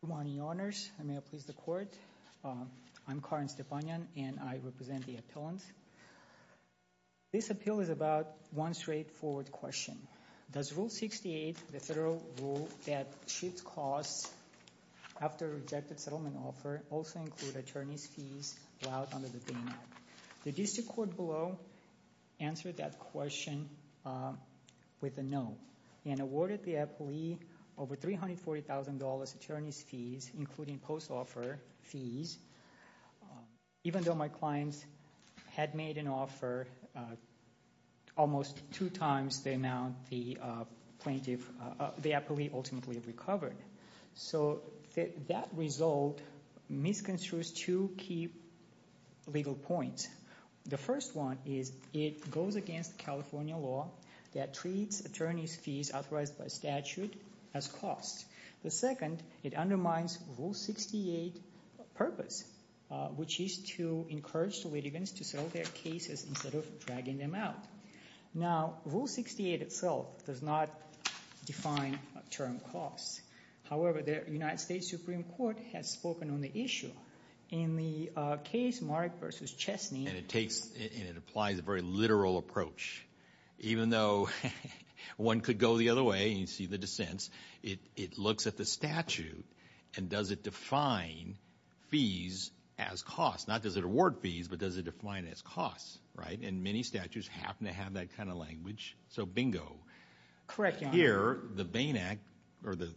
Good morning, your honors. May I please the court? I'm Karin Stepanyan and I represent the appellant. This appeal is about one straightforward question. Does Rule 68, the federal rule that shifts costs after rejected settlement offer, also include attorney's fees allowed under the Dana Act? The district court below answered that question with a no and awarded the appellee over $340,000 attorney's fees, including post-offer fees, even though my clients had made an offer almost two times the amount the plaintiff, the appellee ultimately recovered. So that result misconstrues two key legal points. The first one is it goes against California law that treats attorney's fees authorized by statute as costs. The second, it undermines Rule 68 purpose, which is to encourage the litigants to settle their cases instead of dragging them out. Now, Rule 68 itself does not define term costs. However, the United States Supreme Court has spoken on the issue. In the case Mark v. Chesney, and it takes and it applies a very literal approach, even though one could go the other way and you see the dissents, it looks at the statute and does it define fees as costs? Not does it award fees, but does it define as costs, right? And many statutes happen to have that kind of language, so bingo. Here, the Bain Act or the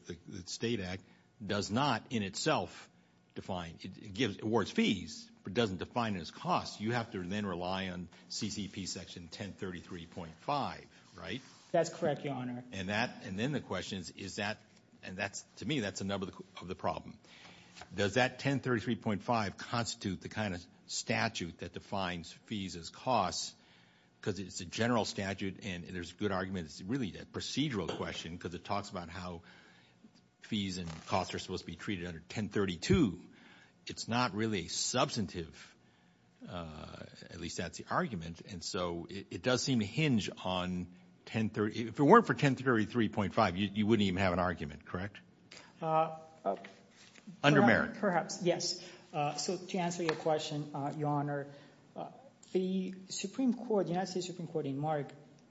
State Act does not in itself award fees, but doesn't define it as costs. You have to then rely on CCP section 1033.5, right? That's correct, Your Honor. And that, and then the question is, is that, and that's, to me, that's a number of the problem. Does that 1033.5 constitute the kind of statute that defines fees as costs? Because it's a general statute and there's a good argument, it's really a procedural question because it talks about how fees and costs are supposed to be treated under 1032. It's not really substantive, at least that's the argument, and so it does seem to hinge on 1033.5. If it weren't for 1033.5, you wouldn't even have an argument, correct? Under merit. Perhaps, yes. So to answer your question, Your Honor, the Supreme Court, the United States Supreme Court in Mark,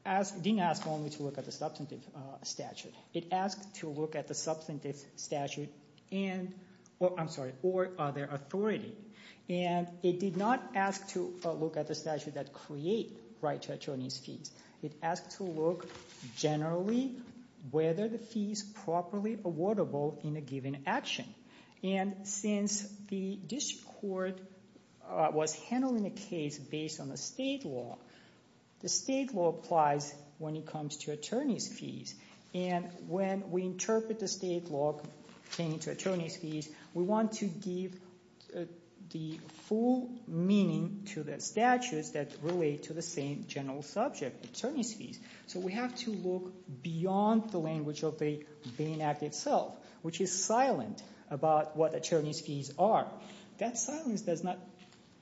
didn't ask only to look at the substantive statute. It asked to look at the substantive statute and, or, I'm sorry, or other authority. And it did not ask to look at the statute that create right to attorneys' fees. It asked to look generally whether the fee is properly awardable in a given action. And since the district court was handling the case based on the state law, the state law applies when it comes to attorney's fees. And when we interpret the state law pertaining to attorney's fees, we want to give the full meaning to the statutes that relate to the same general subject, attorney's fees. So we have to look beyond the language of the Bain Act itself, which is silent about what attorney's fees are. That silence does not...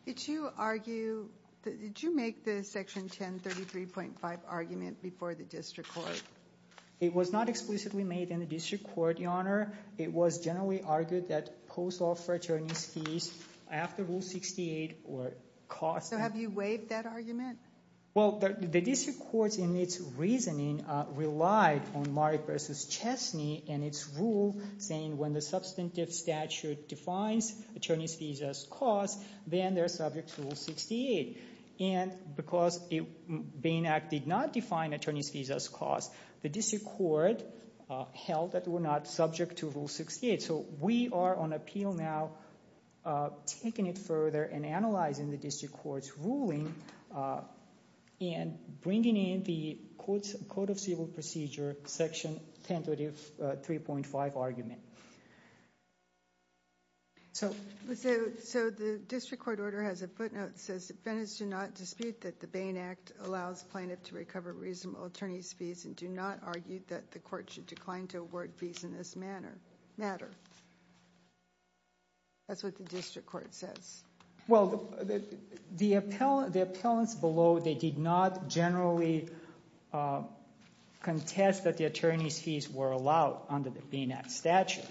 Did you argue, did you make the Section 1033.5 argument before the district court? It was not explicitly made in the district court, Your Honor. It was generally argued that post-law for attorney's fees, after Rule 68, were cost... So have you waived that argument? Well, the district court, in its reasoning, relied on Mark v. Chesney and its rule saying when the substantive statute defines attorney's costs, then they're subject to Rule 68. And because the Bain Act did not define attorney's fees as costs, the district court held that we're not subject to Rule 68. So we are on appeal now taking it further and analyzing the district court's ruling and bringing in the Code of Civil Procedure, Section 1033.5 argument. So the district court order has a footnote that says defendants do not dispute that the Bain Act allows plaintiff to recover reasonable attorney's fees and do not argue that the court should decline to award fees in this matter. That's what the district court says. Well, the appellants below, they did not generally contest that the attorney's fees were allowed under the Bain Act statute.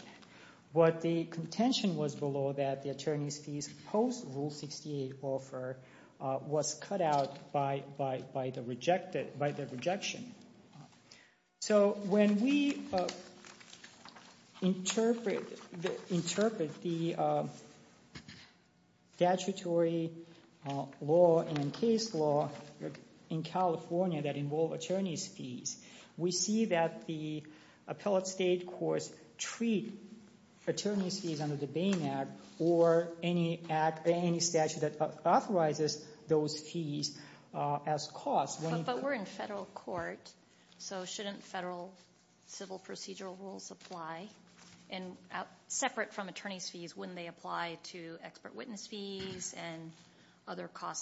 But the contention was below that the attorney's fees post-Rule 68 offer was cut out by the rejection. So when we interpret the statutory law and case law in California that involve attorney's fees, we see that the appellate state courts treat attorney's fees under the Bain Act or any statute that authorizes those fees as costs. But we're in federal court, so shouldn't federal civil procedural rules apply? Separate from attorney's fees, wouldn't they apply to expert and why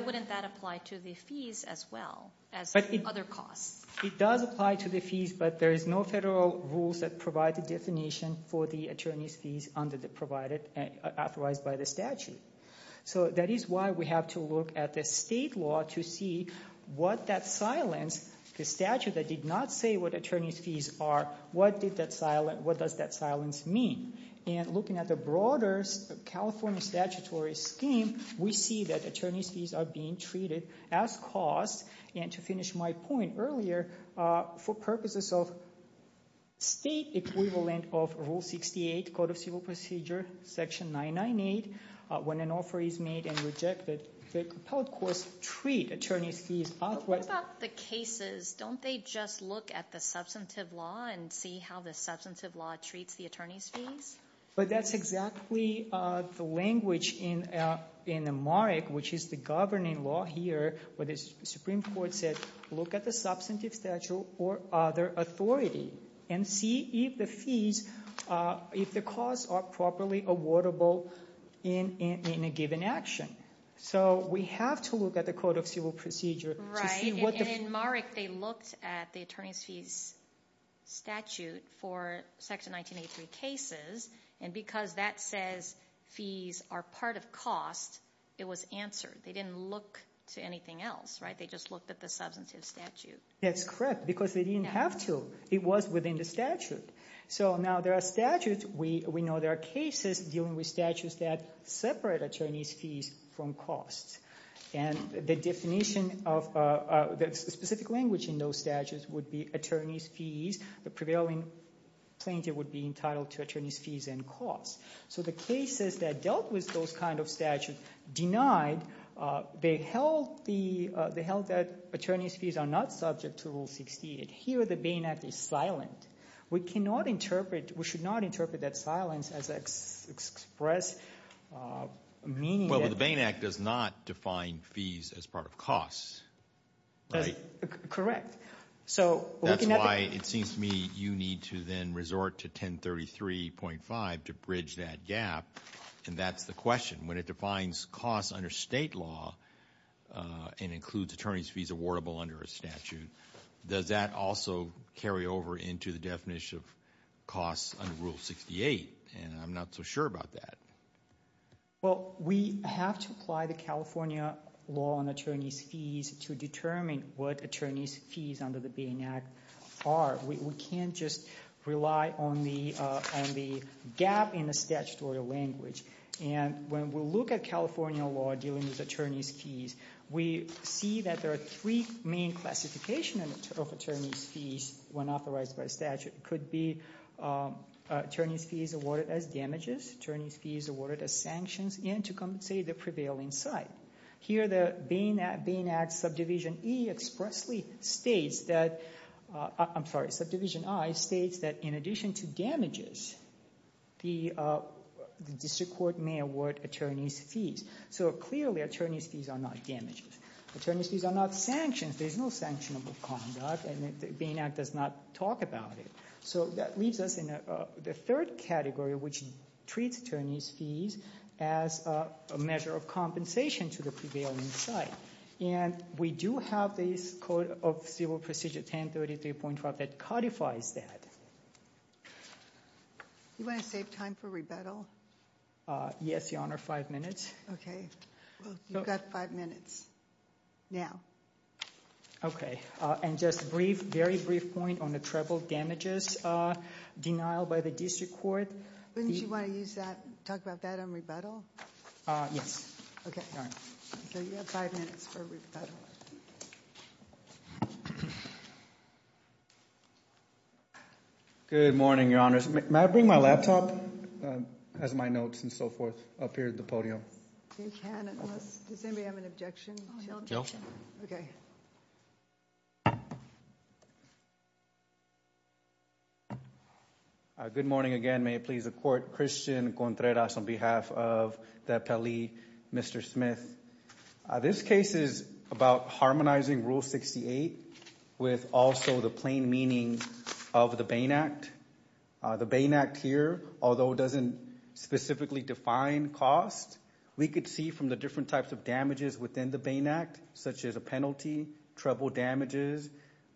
wouldn't that apply to the fees as well as other costs? It does apply to the fees, but there is no federal rules that provide the definition for the attorney's fees under the provided, authorized by the statute. So that is why we have to look at the state law to see what that silence, the statute that did not say what attorney's fees are, what did that silence, what does that silence mean? And looking at the broader California statutory scheme, we see that attorney's fees are being treated as costs. And to finish my point earlier, for purposes of state equivalent of Rule 68, Code of Civil Procedure, Section 998, when an offer is made and rejected, the appellate courts treat attorney's fees as... What about the cases? Don't they just look at the substantive law and see how the substantive law treats the attorney's fees? But that's exactly the language in the MARIC, which is the governing law here, where the Supreme Court said, look at the substantive statute or other authority and see if the fees, if the costs are properly awardable in a given action. So we have to look at the Code of Civil Procedure to see what the... Right, and in MARIC they looked at the attorney's fees statute for Section 1983 cases, and because that says fees are part of cost, it was answered. They didn't look to anything else, right? They just looked at the substantive statute. That's correct, because they didn't have to. It was within the statute. So now there are statutes, we know there are cases dealing with statutes that separate attorney's fees from costs. And the definition of the specific language in those statutes would be attorney's fees, the prevailing plaintiff would be entitled to attorney's fees and costs. So the cases that dealt with those kind of statutes denied, they held that attorney's fees are not subject to Rule 68. Here the Bain Act is silent. We cannot interpret, we should not interpret that silence as expressed... Well, the Bain Act does not define fees as part of costs, right? Correct. That's why it seems to me you need to then resort to 1033.5 to bridge that gap, and that's the question. When it defines costs under state law and includes attorney's fees awardable under a statute, does that also carry over into the definition of costs under Rule 68? And I'm not so sure about that. Well, we have to apply the California law on attorney's fees to determine what attorney's fees under the Bain Act are. We can't just rely on the gap in the statutory language. And when we look at California law dealing with attorney's fees, we see that there are three main classifications of attorney's fees when authorized by statute. It could be attorney's fees awarded as damages, attorney's fees awarded as sanctions, and to compensate the prevailing side. Here the Bain Act, Bain Act Subdivision E expressly states that, I'm sorry, Subdivision I states that in addition to damages, the district court may award attorney's fees. So clearly attorney's fees are not damages. Attorney's fees are not sanctions. There's no sanctionable conduct and the Bain Act does not talk about it. So that leaves us in the third category which treats attorney's fees as a measure of compensation to the prevailing side. And we do have this Code of Civil Procedure 1033.12 that codifies that. You want to save time for rebuttal? Yes, Your Honor, five minutes. Okay, you've got five minutes now. Okay, and just a brief, very brief point on the treble damages denial by the district court. Wouldn't you want to use that, talk about that on rebuttal? Yes. Okay, so you have five minutes for rebuttal. Good morning, Your Honor. May I bring my laptop as my notes and so forth up here at the podium? You can, unless, does anybody have an objection? No. Okay. Good morning again. May it please the Court. Christian Contreras on behalf of the Pele, Mr. Smith. This case is about harmonizing Rule 68 with also the plain meaning of the Bain Act. The Bain Act here, although it doesn't specifically define cost, we could see from the different types of damages within the Bain Act, such as a penalty, treble damages,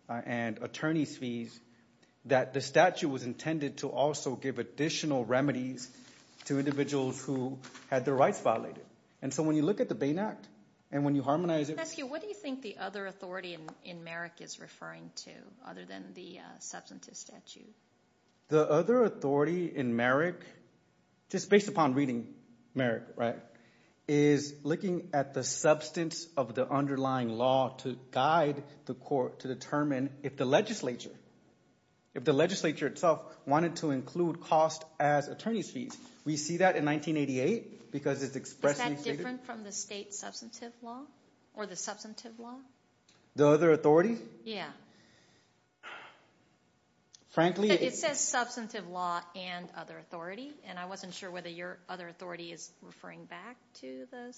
and attorney's fees, that the statute was intended to also give additional remedies to individuals who had their rights violated. And so when you look at the Bain Act and when you harmonize it. What do you think the other authority in Merrick is referring to other than the substantive statute? The other authority in Merrick, just based upon reading Merrick, right, is looking at the substance of the underlying law to guide the court to determine if the legislature, if the legislature itself wanted to include cost as attorney's fees. We see that in 1988 because it's expressly stated. Is that different from the state substantive law or the substantive law? The other authority? Yeah. It says substantive law and other authority and I wasn't sure whether your other authority is referring back to the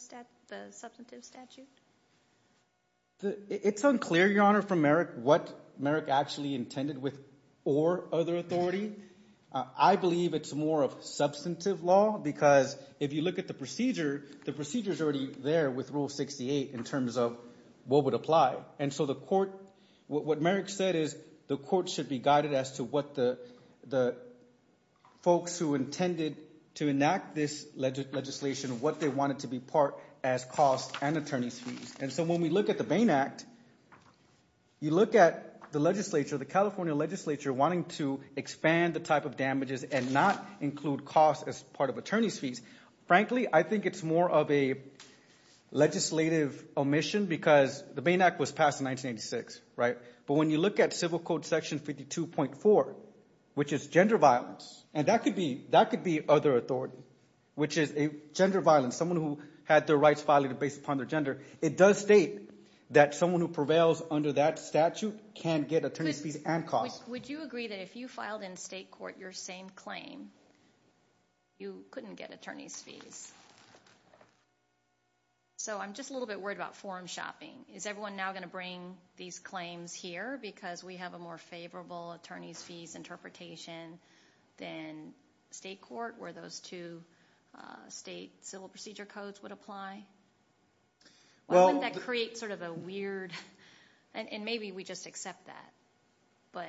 substantive statute. It's unclear, Your Honor, from Merrick what Merrick actually intended with or other authority. I believe it's more of substantive law because if you look at the procedure, the procedure is already there with Rule 68 in terms of what would apply. And so the court, what Merrick said is the court should be guided as to what the folks who intended to enact this legislation, what they wanted to be part as cost and attorney's fees. And so when we look at the Bain Act, you look at the legislature, the California legislature wanting to expand the type of damages and not include cost as part of attorney's fees. Frankly, I think it's more of a legislative omission because the Bain Act was passed in 1986, right? But when you look at Civil Code section 52.4, which is gender violence, and that could be that could be other authority, which is a gender violence. Someone who had their rights violated based upon their gender. It does state that someone who prevails under that statute can get attorney's fees and cost. Would you agree that if you filed in state court your same claim, you couldn't get attorney's fees? So I'm just a little bit worried about forum shopping. Is everyone now going to bring these claims here because we have a more favorable attorney's fees interpretation than state court where those two state civil procedure codes would apply? Well that creates sort of a weird and maybe we just accept that. But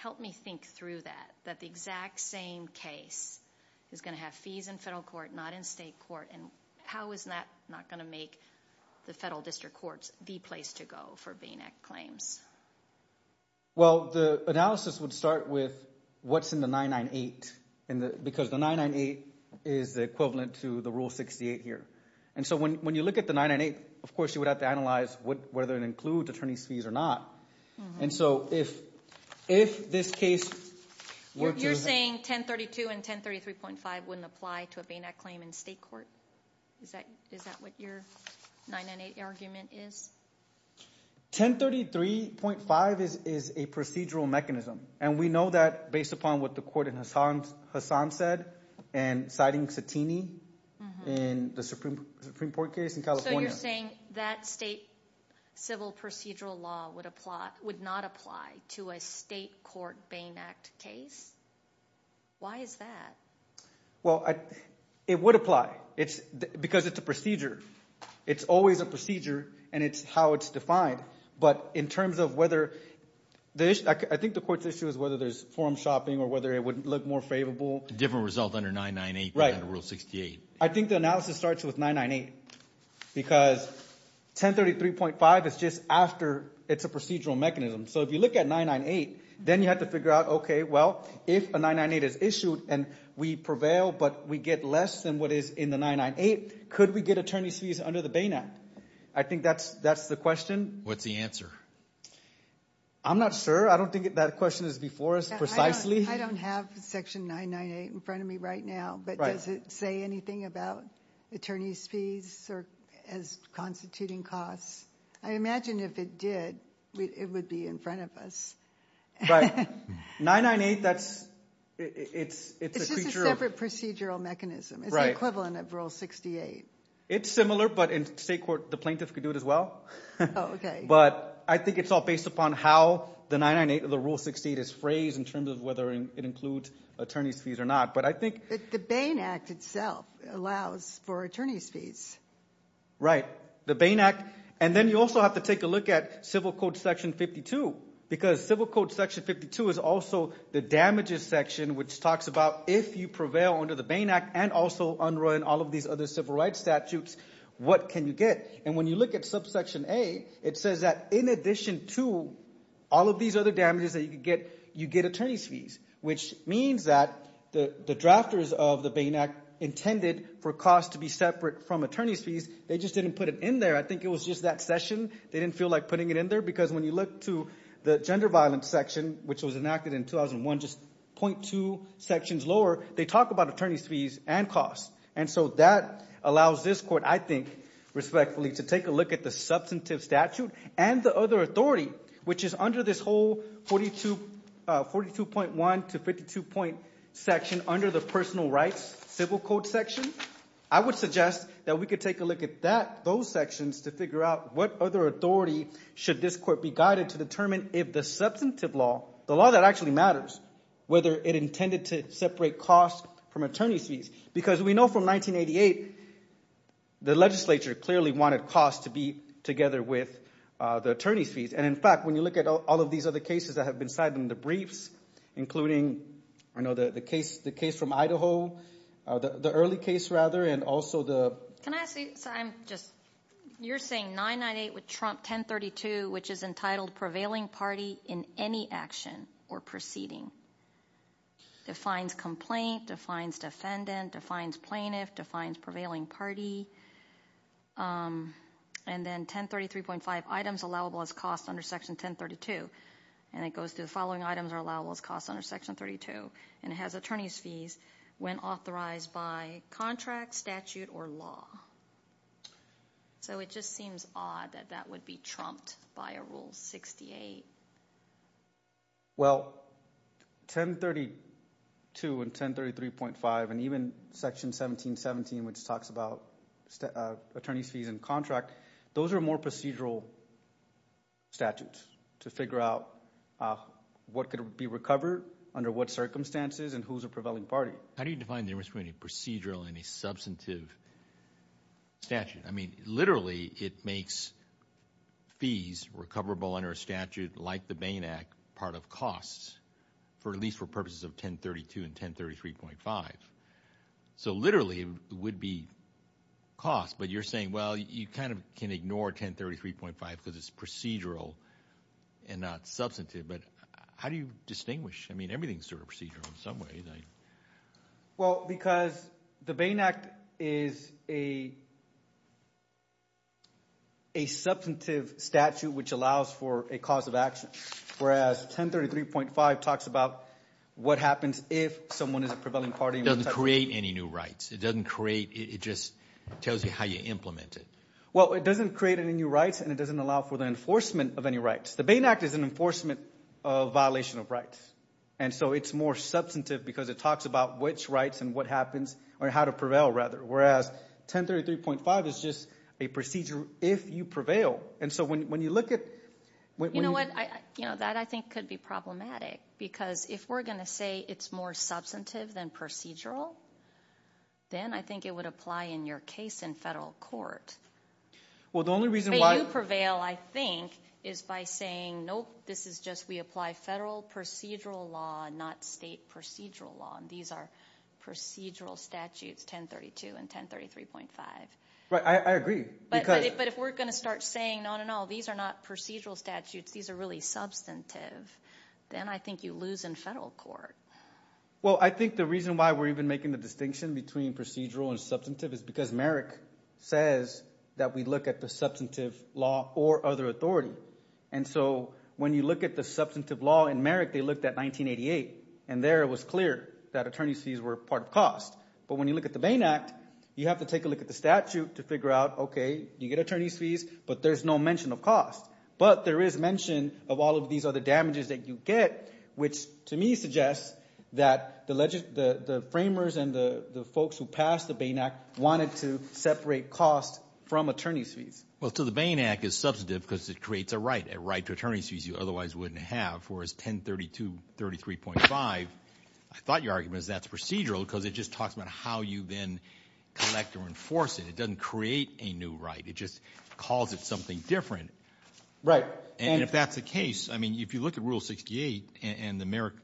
help me think through that. That the exact same case is going to have fees in federal court, not in state court. And how is that not going to make the federal district courts the place to go for Bain Act claims? Well the analysis would start with what's in the 998. Because the 998 is the equivalent to the Rule 68 here. And so when you look at the 998, of course you have to analyze whether it includes attorney's fees or not. And so if this case... You're saying 1032 and 1033.5 wouldn't apply to a Bain Act claim in state court? Is that what your 998 argument is? 1033.5 is a procedural mechanism. And we know that based upon what the court in Hassan said and citing Satini in the Supreme Court case in California. So you're saying that state civil procedural law would not apply to a state court Bain Act case? Why is that? Well it would apply. It's because it's a procedure. It's always a procedure and it's how it's defined. But in terms of whether... I think the court's issue is whether there's forum shopping or whether it would look more different result under 998 than under Rule 68. I think the analysis starts with 998. Because 1033.5 is just after it's a procedural mechanism. So if you look at 998, then you have to figure out, okay, well if a 998 is issued and we prevail but we get less than what is in the 998, could we get attorney's fees under the Bain Act? I think that's the question. What's the answer? I'm not sure. I don't have section 998 in front of me right now. But does it say anything about attorney's fees as constituting costs? I imagine if it did, it would be in front of us. Right. 998, that's... It's just a separate procedural mechanism. It's the equivalent of Rule 68. It's similar but in state court the plaintiff could do it as well. Okay. But I think it's all based upon how the 998 or the Rule 68 is phrased in terms of whether it includes attorney's fees or not. But I think... The Bain Act itself allows for attorney's fees. Right. The Bain Act. And then you also have to take a look at Civil Code section 52. Because Civil Code section 52 is also the damages section which talks about if you prevail under the Bain Act and also unrun all of these other civil rights statutes, what can you get? And when you look at subsection A, it says that in addition to all of these other damages that you could get, you get attorney's fees. Which means that the drafters of the Bain Act intended for costs to be separate from attorney's fees. They just didn't put it in there. I think it was just that session. They didn't feel like putting it in there because when you look to the gender violence section, which was enacted in 2001, just 0.2 sections lower, they talk about attorney's fees and costs. And so that allows this court, I think respectfully, to take a look at the substantive statute and the other authority, which is under this whole 42... 42.1 to 52 point section under the personal rights Civil Code section. I would suggest that we could take a look at that, those sections, to figure out what other authority should this court be guided to determine if the substantive law, the law that actually matters, whether it intended to separate costs from attorney's fees. Because we know from 1988, the legislature clearly wanted costs to be together with the attorney's fees. And in fact, when you look at all of these other cases that have been cited in the briefs, including, I know the case the case from Idaho, the early case rather, and also the... Can I say, so I'm just, you're saying 998 with Trump, 1032, which is entitled prevailing party in any action or proceeding. Defines complaint, defines defendant, defines plaintiff, defines prevailing party. And then 1033.5, items allowable as costs under section 1032. And it goes to the following items are allowable as costs under section 32. And it has attorney's fees when authorized by contract, statute, or law. So it just seems odd that that would be trumped by a rule 68. Well, 1032 and 1033.5, and even section 1717, which talks about attorney's fees and contract, those are more procedural statutes to figure out what could be recovered, under what circumstances, and who's a prevailing party. How do you define the difference between a procedural and a substantive statute? I mean, literally, it makes fees recoverable under a statute like the Bain Act part of costs, for at least for purposes of 1032 and 1033.5. So you're saying, well, you kind of can ignore 1033.5 because it's procedural and not substantive. But how do you distinguish? I mean, everything's sort of procedural in some ways. Well, because the Bain Act is a substantive statute, which allows for a cause of action. Whereas 1033.5 talks about what happens if someone is a prevailing party. It doesn't create any new rights. It doesn't create, it just tells you how you implement it. Well, it doesn't create any new rights, and it doesn't allow for the enforcement of any rights. The Bain Act is an enforcement of violation of rights. And so it's more substantive because it talks about which rights and what happens, or how to prevail, rather. Whereas, 1033.5 is just a procedure if you prevail. And so when you look at... You know what? That, I think, could be problematic. Because if we're going to say it's more substantive than procedural, then I think it would apply in your case in federal court. Well, the only reason why... But you prevail, I think, is by saying, nope, this is just we apply federal procedural law, not state procedural law. And these are procedural statutes, 1032 and 1033.5. Right, I agree. Because... But if we're gonna start saying, no, no, no, these are not procedural statutes, these are really substantive, then I think you lose in federal court. Well, I think the reason why we're even making the distinction between procedural and substantive is because Merrick says that we look at the substantive law or other authority. And so when you look at the substantive law in Merrick, they looked at 1988, and there it was clear that attorney's fees were part of cost. But when you look at the Bain Act, you have to take a look at the statute to figure out, okay, you get attorney's fees, but there's no mention of cost. But there is mention of all of these other damages that you get, which to me suggests that the framers and the folks who passed the Bain Act wanted to separate cost from attorney's fees. Well, so the Bain Act is substantive because it creates a right, a right to attorney's fees you otherwise wouldn't have. Whereas 1032, 1033.5, I thought your argument is that's procedural because it just talks about how you then collect or enforce it. It doesn't create a new right, it just calls it something different. Right. And if that's the case, I mean, if you look at Rule 68 and the Merrick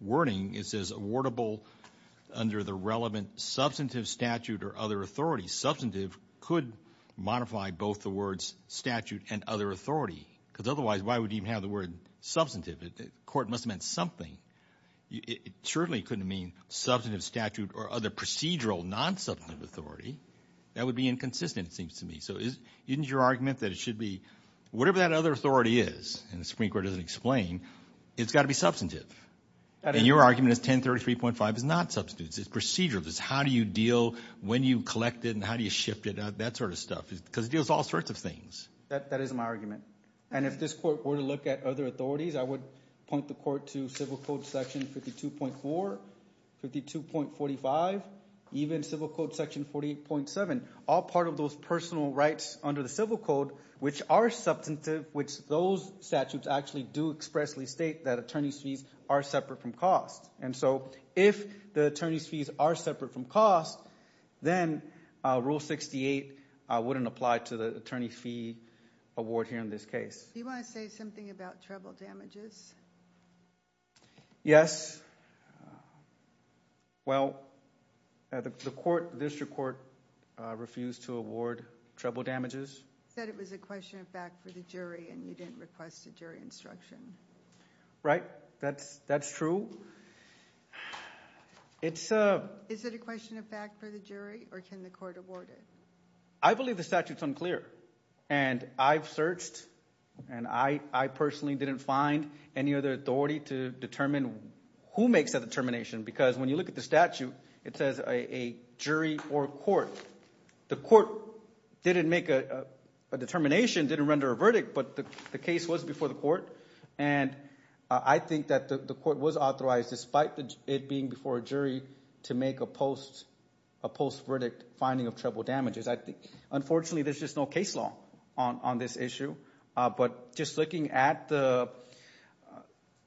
wording, it says, awardable under the relevant substantive statute or other authority. Substantive could modify both the words statute and other authority. Because otherwise, why would you even have the word substantive? The court must have meant something. It certainly couldn't mean substantive statute or other procedural non-substantive authority. That would be inconsistent, it seems to me. So isn't your argument that it should be, whatever that other authority is, and the Supreme Court doesn't explain, it's got to be substantive. And your argument is 1033.5 is not substantive, it's procedural. It's how do you deal, when you collect it, and how do you shift it, that sort of stuff. Because it deals with all sorts of things. That is my argument. And if this court were to look at other authorities, I would point the court to Civil Code Section 52.4, 52.45, even Civil Code Section 48.7, all part of those personal rights under the Civil Code, which are substantive, which those statutes actually do expressly state that attorney's fees are separate from cost. And so if the attorney's fees are separate from cost, then Rule 68 wouldn't apply to the attorney fee award here in this case. Do you want to say something about treble damages? Yes. Well, the court, district court, refused to award treble damages. You said it was a question of fact for the jury, and you didn't request a jury instruction. Right, that's true. It's a... Is it a question of fact for the jury, or can the court award it? I believe the statute's unclear. And I've searched, and I personally didn't find, any other authority to determine who makes that determination. Because when you look at the statute, it says a jury or court. The court didn't make a determination, didn't render a verdict, but the case was before the court. And I think that the court was authorized, despite it being before a jury, to make a post verdict finding of treble damages. Unfortunately, there's just no case law on this issue. But just looking at the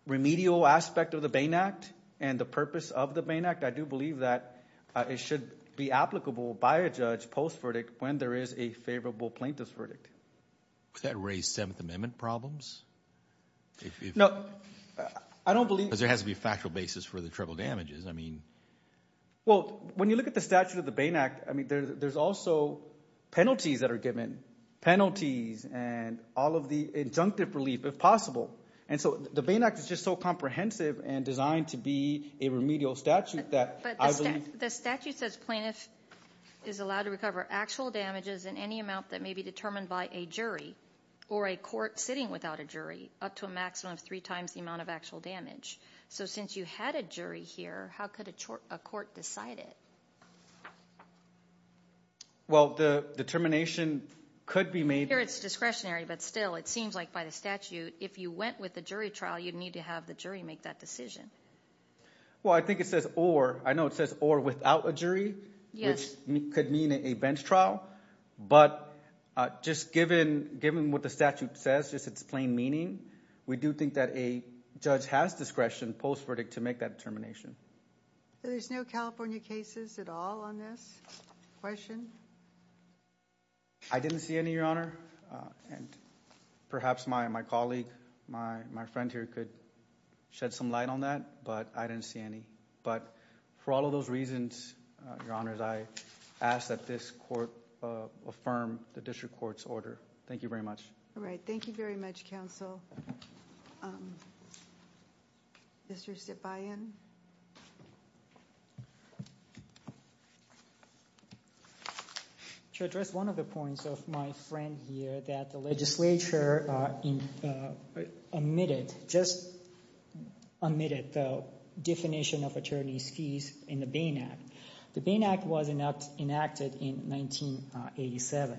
remedial aspect of the Bain Act, and the purpose of the Bain Act, I do believe that it should be applicable by a judge post verdict when there is a favorable plaintiff's verdict. Would that raise Seventh Amendment problems? No. I don't believe... Because there has to be a factual basis for the treble damages. I mean... Well, when you look at the statute of the Bain Act, there's also penalties that are given. Penalties and all of the injunctive relief, if possible. And so the Bain Act is just so comprehensive and designed to be a remedial statute that I believe... The statute says plaintiff is allowed to recover actual damages in any amount that may be determined by a jury, or a court sitting without a jury, up to a maximum of three times the amount of actual damage. So since you had a jury here, how could a court decide it? Well, the determination could be made... Here it's discretionary, but still, it seems like by the statute, if you went with the jury trial, you'd need to have the jury make that decision. Well, I think it says or. I know it says or without a jury, which could mean a bench trial. But just given what the statute says, just its plain meaning, we do think that a judge has discretion post verdict to make that determination. There's no California cases at all on this. Question? I didn't see any, Your Honor. And perhaps my colleague, my friend here could shed some light on that, but I didn't see any. But for all of those reasons, Your Honor, I ask that this court affirm the district court's order. Thank you very much. All right. Thank you very much, counsel. Mr. Sipayan? To address one of the points of my friend here, that the legislature omitted, just omitted the definition of attorney's fees in the Bain Act. The Bain Act was enacted in 1987.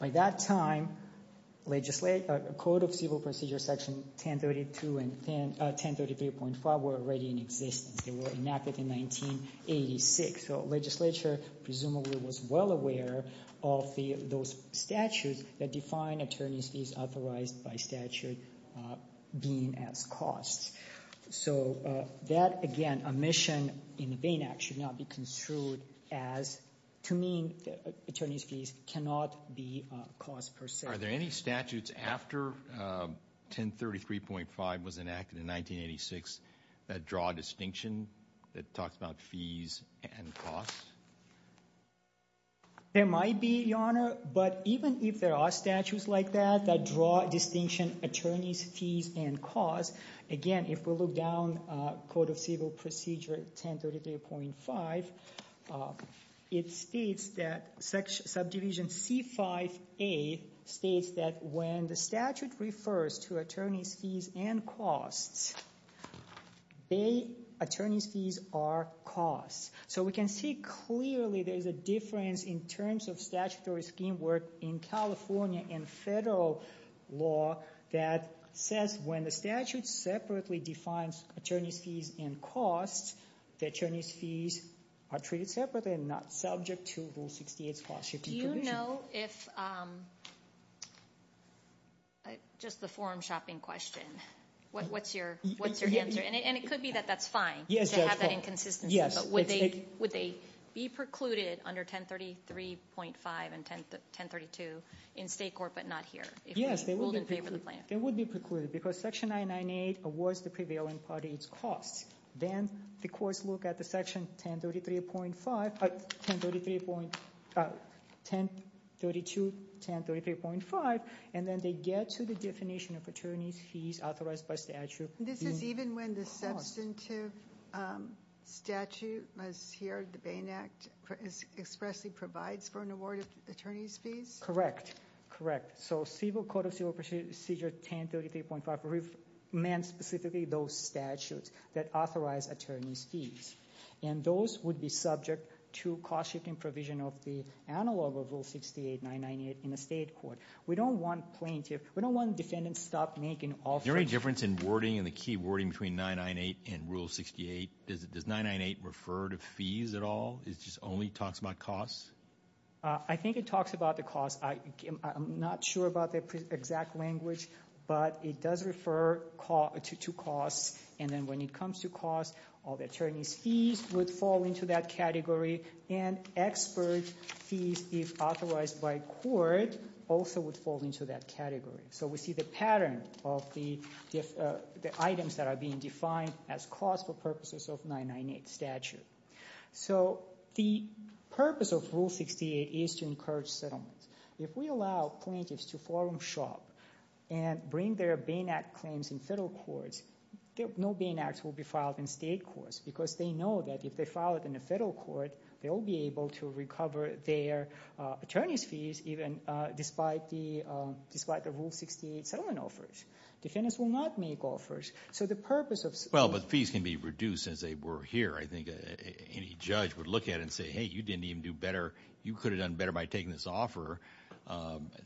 By that time, Code of Civil Procedure Section 1032 and 1033.5 were already in existence. They were enacted in 1986. So legislature presumably was well aware of those statutes that define attorney's fees authorized by statute being as costs. So that, again, omission in the Bain Act should not be construed as to mean that attorney's fees cannot be cost per se. Are there any statutes after 1033.5 was enacted in 1986 that draw distinction that talks about fees and costs? There might be, Your Honor, but even if there are statutes like that, that draw distinction attorney's fees and costs, again, if we look down Code of Civil Procedure 1033.5, it states that Subdivision C5A states that when the statute refers to attorney's fees and costs, Bain attorney's fees are costs. So we can see clearly there's a difference in terms of statutory scheme work in California and federal law that says when the statute separately defines attorney's fees and costs, the attorney's fees are treated separately and not subject to Rule 68's cost-shifting provision. Do you know if, just the forum shopping question, what's your answer? And it could be that that's fine to have that inconsistency, but would they be precluded under 1033.5 and 1032 in state court, but not here? Yes, they would be precluded. Because section 998 awards the prevailing party its costs. Then the courts look at the section 1033.5, 1032, 1033.5, and then they get to the definition of attorney's fees authorized by statute. This is even when the substantive statute was here, the Bain Act, expressly provides for an award of attorney's fees? Correct, correct. So Civil Code of Civil Procedure 1033.5 meant specifically those statutes that authorize attorney's fees. And those would be subject to cost-shifting provision of the analog of Rule 68, 998 in a state court. We don't want plaintiff, we don't want defendants to stop making offers. Is there any difference in wording and the key wording between 998 and Rule 68? Does 998 refer to fees at all? It just only talks about costs? I think it talks about the cost. I'm not sure about the exact language, but it does refer to costs. And then when it comes to costs, all the attorney's fees would fall into that category. And expert fees, if authorized by court, also would fall into that category. So we see the pattern of the items that are being defined as costs for purposes of 998 statute. So the purpose of Rule 68 is to encourage settlements. If we allow plaintiffs to forum shop and bring their Bain Act claims in federal courts, no Bain Act will be filed in state courts because they know that if they file it in a federal court, they will be able to recover their attorney's fees even despite the despite the Rule 68 settlement offers. Defendants will not make offers. So the purpose of... Well, but fees can be reduced as they were here. I think any judge would look at and say, hey, you didn't even do better. You could have done better by taking this offer,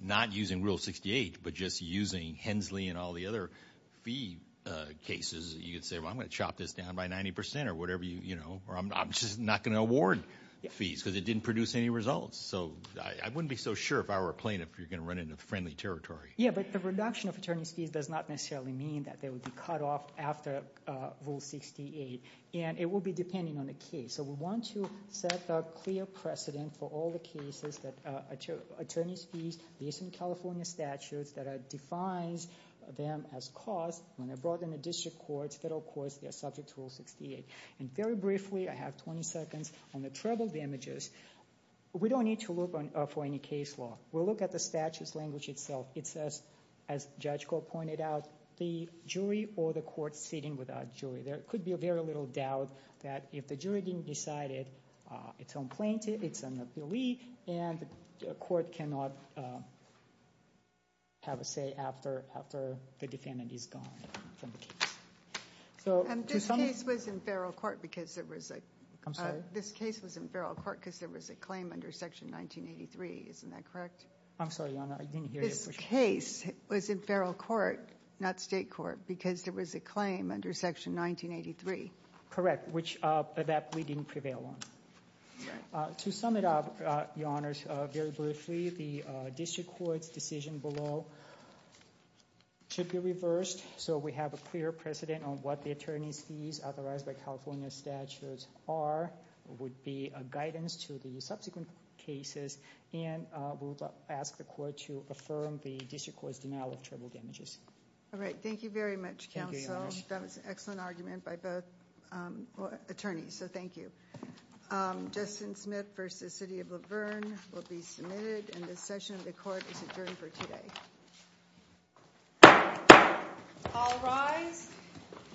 not using Rule 68, but just using Hensley and all the other fee cases. You could say, well, I'm gonna chop this down by 90% or whatever, you know, or I'm just not gonna award fees because it didn't produce any results. So I wouldn't be so sure if I were a plaintiff, you're gonna run into friendly territory. Yeah, but the reduction of attorney's fees does not necessarily mean that they would be cut off after Rule 68. And it will be depending on the case. So we want to set a clear precedent for all the cases that attorney's fees, these in California statutes, that defines them as cost when they're brought in the district courts, federal courts, they're subject to Rule 68. And very briefly, I have 20 seconds on the treble damages. We don't need to look for any case law. We'll look at the statute's language itself. It says, as Judge Gore pointed out, the jury or the court sitting without jury. There could be a very little doubt that if the jury didn't decide it, it's unplaintive, it's an oblique, and the court cannot have a say after the defendant is gone from the case. And this case was in federal court because there was a, I'm sorry, this case was in federal court because there was a claim under Section 1983, isn't that correct? I'm sorry, Your Honor, I didn't hear you. This case was in federal court, not state court, because there was a claim under Section 1983. Correct, which that we didn't prevail on. To sum it up, Your Honor, very briefly, the district court's decision below should be reversed so we have a clear precedent on what the attorney's fees authorized by California statutes are, would be a guidance to the subsequent cases, and we'll ask the court to affirm the district court's denial of treble damages. All right, thank you very much, counsel. That was an excellent argument by both attorneys, so thank you. Justin Smith v. City of Luverne will be submitted, and this session of the court is adjourned for today. All rise.